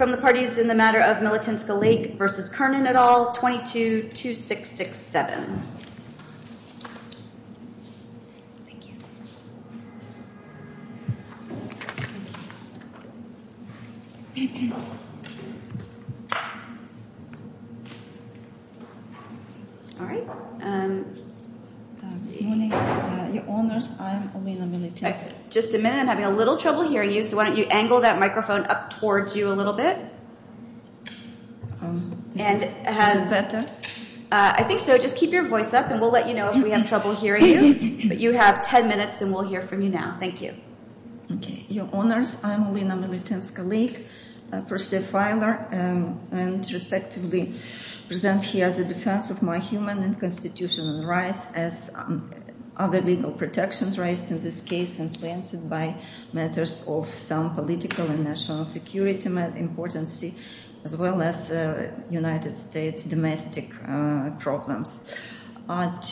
et al., 222667. Just a minute, I'm having a little trouble hearing you, so why don't you angle that microphone up towards you a little bit, and I think so, just keep your voice up and we'll let you know if we have trouble hearing you, but you have 10 minutes and we'll hear from you now. Thank you. Okay. Your Honors, I'm Olena Militinska-Lake, a per se filer, and respectively present here as a defense of my human and constitutional rights as other legal protections raised in this case influenced by matters of some political and national security importance, as well as United States domestic problems.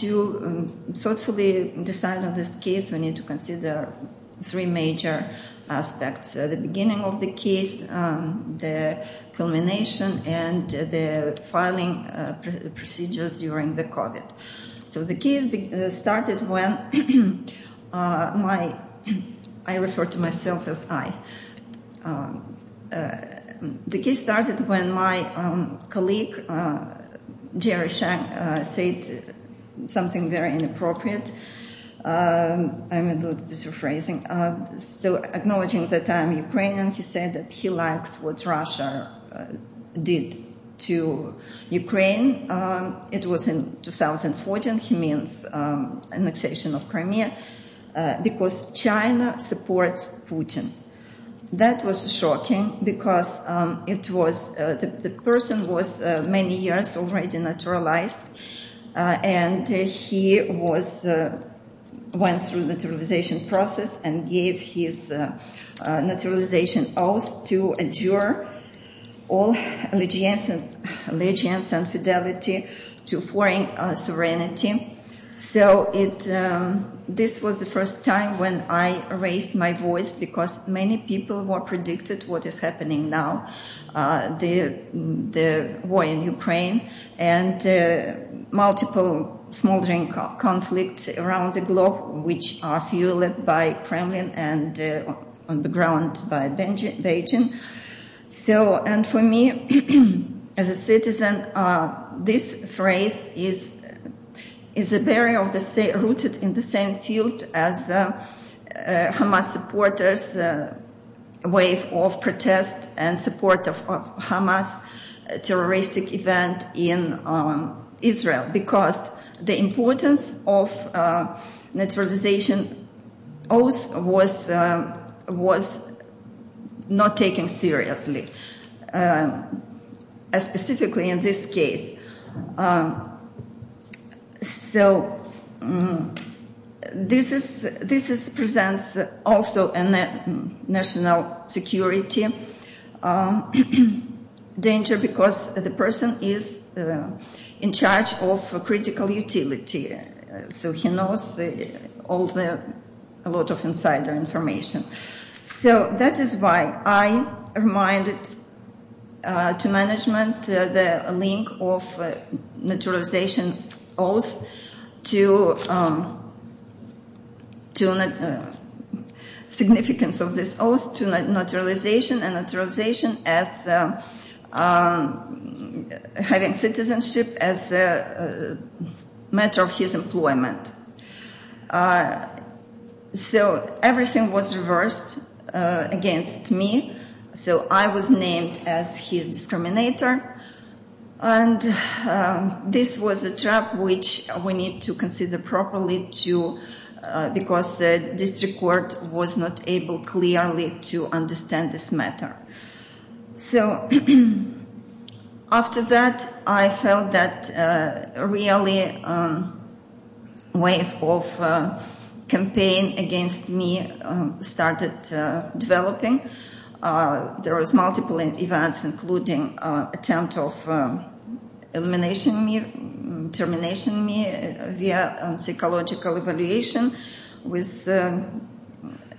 To thoughtfully decide on this case, we need to consider three major aspects, the beginning of the case, the culmination, and the filing procedures during the COVID. So the case started when my, I refer to myself as I, the case started when my colleague Jerry Shang said something very inappropriate, I'm a little bit of phrasing, so acknowledging that I'm Ukrainian, he said that he likes what Russia did to Ukraine. It was in 2014, he means annexation of Crimea, because China supports Putin. That was shocking because it was, the person was many years already naturalized, and he was, went through the naturalization process and gave his naturalization oath to endure all allegiance and fidelity to foreign sovereignty. So it, this was the first time when I raised my voice because many people were predicted what is happening now, the war in Ukraine and multiple smoldering conflict around the globe, which are fueled by Kremlin and on the ground by Beijing. So, and for me as a citizen, this phrase is, is a barrier of the same, rooted in the same field as Hamas supporters wave of protest and support of Hamas terroristic event in Israel, because the importance of naturalization oath was, was not taken seriously, specifically in this case. So this is, this is presents also a national security danger, because the person is in charge of a critical utility, so he knows all the, a lot of insider information. So that is why I reminded to management the link of naturalization oath to, to the significance of this oath to naturalization and naturalization as having citizenship as a matter of his employment. So everything was reversed against me. So I was named as his discriminator. And this was a trap, which we need to consider properly too, because the district court was not able clearly to understand this matter. So after that, I felt that a really wave of campaign against me started developing. There was multiple events, including attempt of elimination me, termination me via psychological evaluation with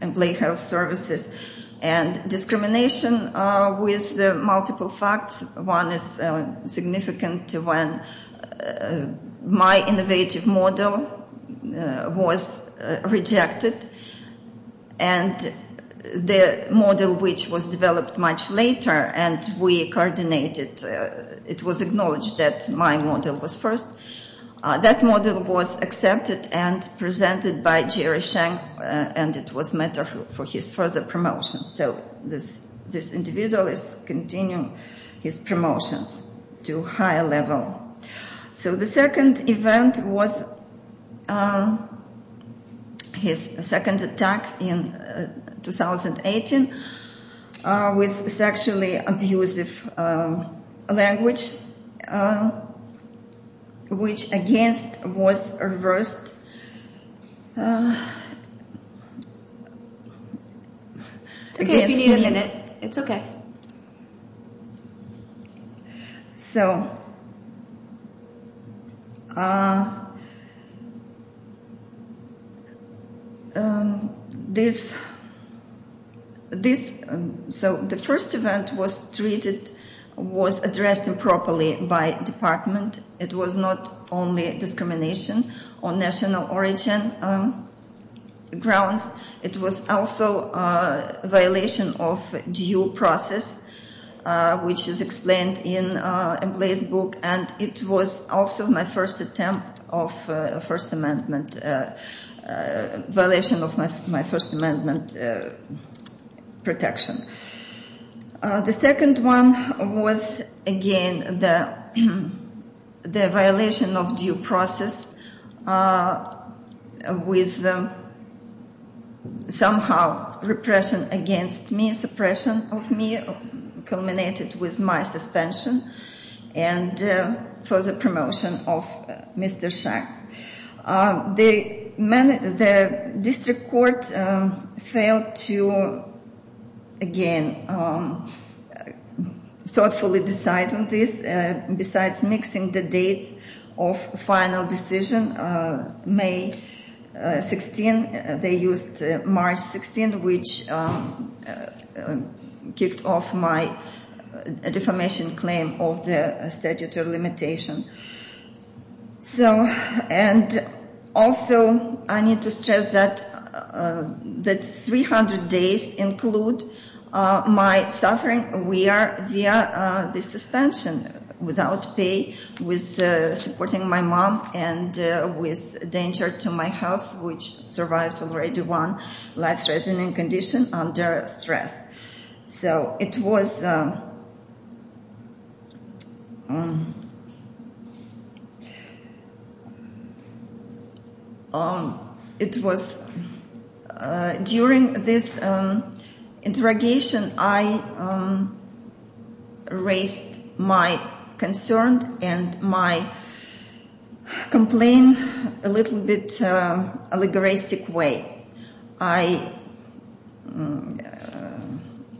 employee health services and discrimination with the multiple facts. One is significant to when my innovative model was rejected and the model, which was developed much later and we coordinated, it was acknowledged that my model was first. That model was accepted and presented by Jerry Sheng and it was met for his further promotion. So this, this individual is continuing his promotions to higher level. So the second event was his second attack in 2018 with sexually abusive language, which against was reversed. It's okay if you need a minute. It's okay. So this, this, so the first event was treated, was addressed improperly by department. It was not only discrimination on national origin grounds. It was also a violation of due process, which is explained in employee's book. And it was also my first attempt of first amendment violation of my first amendment protection. The second one was again, the, the violation of due process with somehow repression against me, suppression of me, culminated with my suspension and further promotion of Mr. Sheng. The district court failed to, again, thoughtfully decide on this. Besides mixing the dates of final decision, May 16, they used March 16, which kicked off my defamation claim of the statutory limitation. So, and also I need to stress that, that 300 days include my suffering. We are via the suspension without pay with supporting my mom and with danger to my house, which survives already one life threatening condition under stress. So it was, it was during this interrogation, I raised my concern and my complain a little bit allegoristic way. I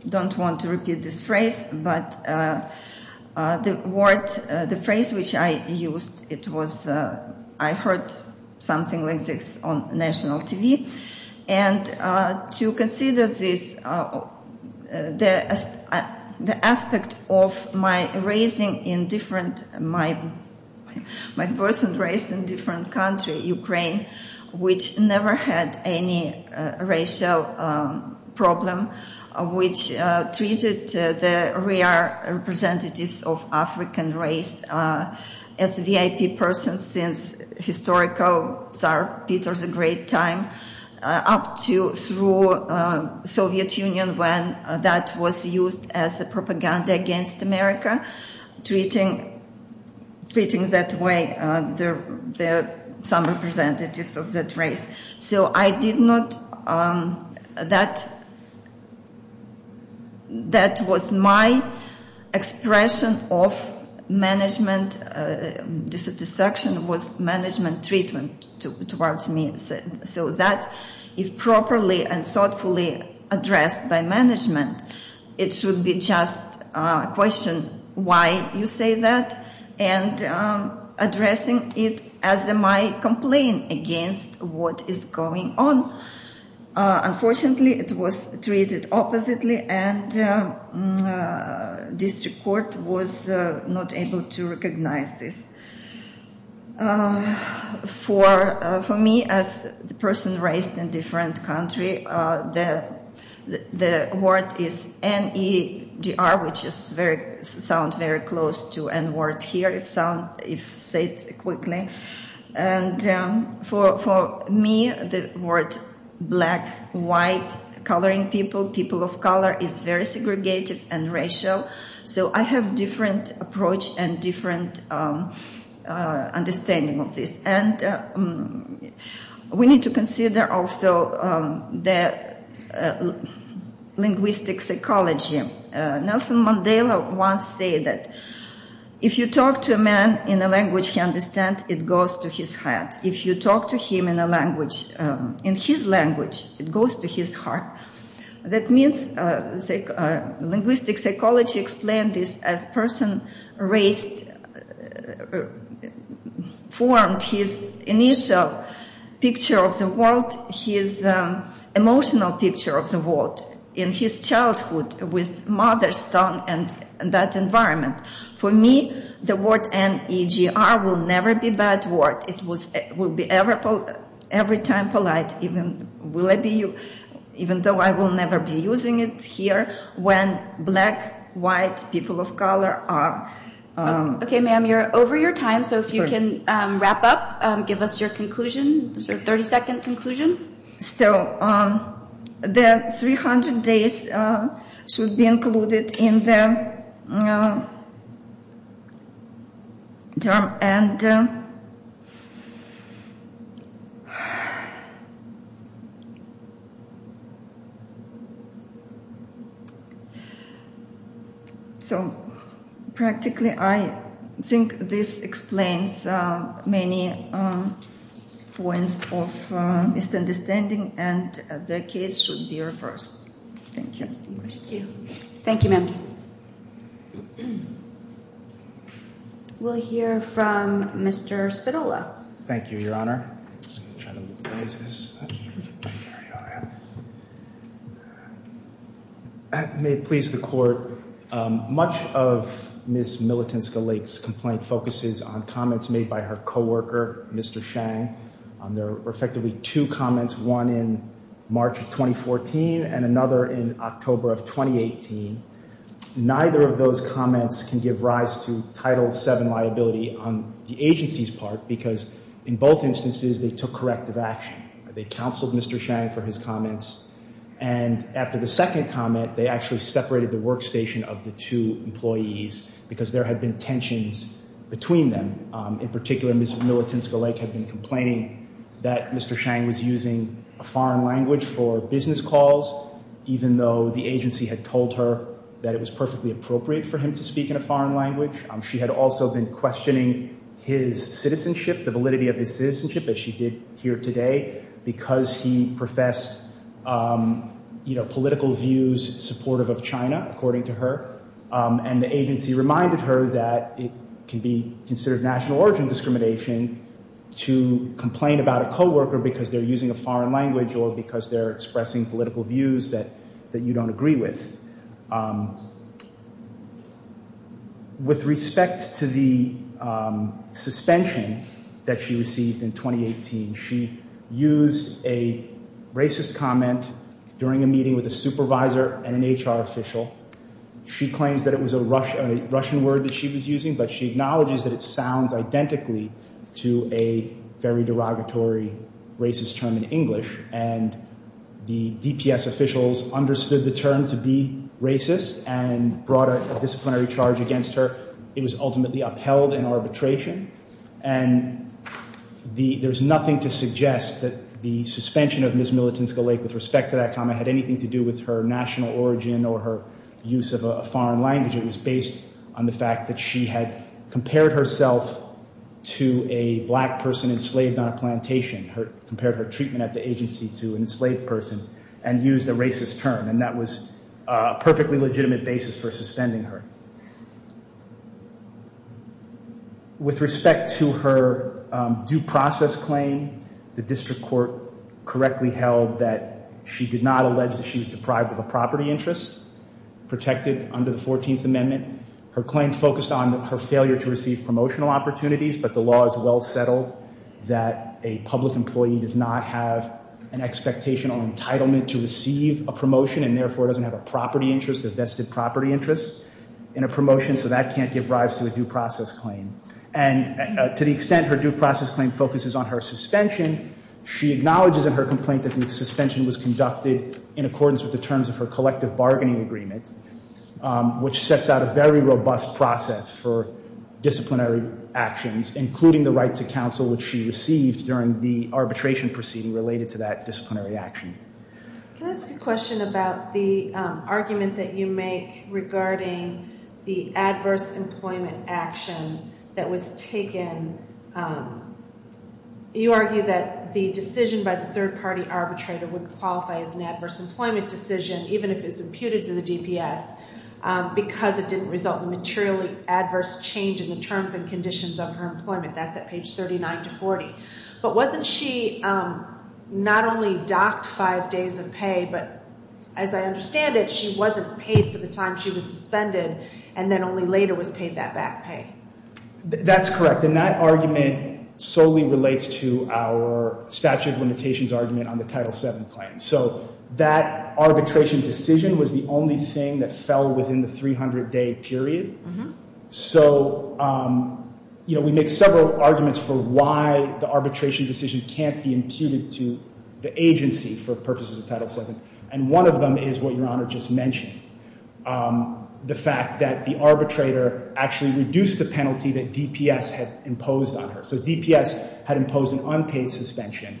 don't want to repeat this phrase, but the word, the phrase which I used, it was, I heard something like this on national TV. And to consider this, the, the aspect of my raising in different, my, my person raised in different country, Ukraine, which never had any racial problem, which treated the rare representatives of African race as VIP person since historical Tsar Peter the Great time up to, through Soviet Union, when that was used as a propaganda against America, treating, treating that way, the, the, some representatives of that race. So I did not, that, that was my expression of management dissatisfaction was management treatment towards me. So that if properly and thoughtfully addressed by management, it should be just a question, why you say that and addressing it as my complaint against what is going on. Unfortunately, it was treated oppositely and district court was not able to recognize this. Um, for, uh, for me as the person raised in different country, uh, the, the, the word is N-E-G-R, which is very sound, very close to N word here. If sound, if say it quickly and, um, for, for me, the word black, white, coloring people, people of color is very segregated and racial. So I have different approach and different, um, uh, understanding of this. And, um, we need to consider also, um, that, uh, linguistic psychology. Nelson Mandela once say that if you talk to a man in a language, he understand it goes to his heart. If you talk to him in a language, um, in his language, it goes to his heart. That means, uh, say, uh, linguistic psychology explained this as person raised, formed his initial picture of the world, his, um, emotional picture of the world in his childhood with mother's tongue and that environment. For me, the word N-E-G-R will never be bad word. It was, it will be every time polite. Will it be you, even though I will never be using it here when black, white people of color are, um, Okay, ma'am, you're over your time. So if you can, um, wrap up, um, give us your conclusion, 30 second conclusion. So, um, the 300 days, uh, should be included in the, um, term. And so practically, I think this explains, uh, many, um, points of, uh, misunderstanding and the case should be reversed. Thank you. Thank you, ma'am. We'll hear from Mr. Spadola. Thank you, Your Honor. I'm just going to try to move this. What is this? There we are. May it please the court, um, much of Ms. Millitinska-Lake's complaint focuses on comments made by her coworker, Mr. Shang. Um, there were effectively two comments, one in March of 2014 and another in October of 2018. Neither of those comments can give rise to Title VII liability on the agency's part because in both instances, they took corrective action. They counseled Mr. Shang for his comments. And after the second comment, they actually separated the workstation of the two employees because there had been tensions between them. Um, in particular, Ms. Millitinska-Lake had been complaining that Mr. Shang was using a foreign language for business calls, even though the agency had told her that it was perfectly appropriate for him to speak in a foreign language. She had also been questioning his citizenship, the validity of his citizenship, as she did here today, because he professed, um, you know, political views supportive of China, according to her. And the agency reminded her that it can be considered national origin discrimination to complain about a coworker because they're using a foreign language or because they're expressing political views that, that you don't agree with. Um, with respect to the, um, suspension that she received in 2018, she used a racist comment during a meeting with a supervisor and an HR official. She claims that it was a Russian, a Russian word that she was using, but she acknowledges that it sounds identically to a very derogatory racist term in English. And the DPS officials understood the term to be racist and brought a disciplinary charge against her. It was ultimately upheld in arbitration. And the, there's nothing to suggest that the suspension of Ms. Millitinska-Lake with respect to that comment had anything to do with her national origin or her use of a foreign language. It was based on the fact that she had compared herself to a black person enslaved on a plantation, her, compared her treatment at the agency to an enslaved person and used a racist term. And that was a perfectly legitimate basis for suspending her. With respect to her due process claim, the district court correctly held that she did not allege that she was deprived of a property interest protected under the 14th Amendment. Her claim focused on her failure to receive promotional opportunities, but the law is well settled that a public employee does not have an expectation or entitlement to receive a promotion and therefore doesn't have a property interest, a vested property interest in a promotion. So that can't give rise to a due process claim. And to the extent her due process claim focuses on her suspension, she acknowledges in her suspension was conducted in accordance with the terms of her collective bargaining agreement, which sets out a very robust process for disciplinary actions, including the right to counsel, which she received during the arbitration proceeding related to that disciplinary action. Can I ask a question about the argument that you make regarding the adverse employment action that was taken? You argue that the decision by the third party arbitrator would qualify as an adverse employment decision, even if it's imputed to the DPS, because it didn't result in materially adverse change in the terms and conditions of her employment. That's at page 39 to 40. But wasn't she not only docked five days of pay, but as I understand it, she wasn't paid for the time she was suspended and then only later was paid that back pay. That's correct. And that argument solely relates to our statute of limitations argument on the Title VII claim. So that arbitration decision was the only thing that fell within the 300-day period. So we make several arguments for why the arbitration decision can't be imputed to the agency for purposes of Title VII. And one of them is what Your Honor just mentioned, the fact that the arbitrator actually reduced the penalty that DPS had imposed on her. So DPS had imposed an unpaid suspension,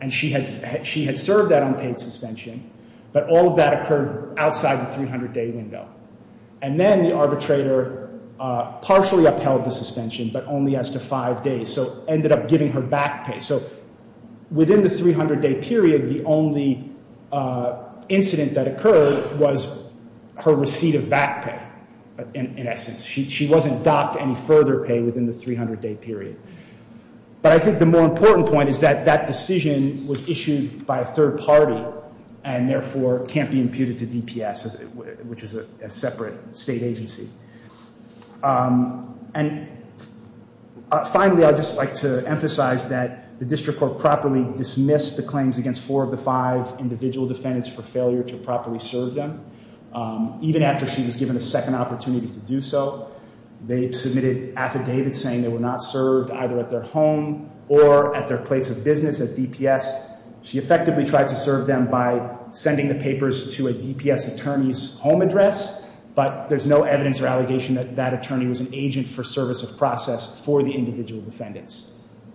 and she had served that unpaid suspension, but all of that occurred outside the 300-day window. And then the arbitrator partially upheld the suspension, but only as to five days, so ended up giving her back pay. So within the 300-day period, the only incident that occurred was her receipt of back pay, in essence. She wasn't docked any further pay within the 300-day period. But I think the more important point is that that decision was issued by a third party, and therefore can't be imputed to DPS, which is a separate state agency. And finally, I'd just like to emphasize that the District Court properly dismissed the claims against four of the five individual defendants for failure to properly serve them, even after she was given a second opportunity to do so. They submitted affidavits saying they were not served either at their home or at their place of business at DPS. She effectively tried to serve them by sending the papers to a DPS attorney's home address, but there's no evidence or allegation that that attorney was an agent for service of process for the individual defendants.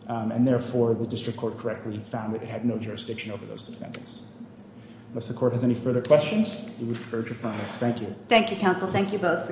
And therefore, the District Court correctly found that it had no jurisdiction over those defendants. Unless the Court has any further questions, we would defer to finance. Thank you. Thank you, counsel. Thank you both for your time.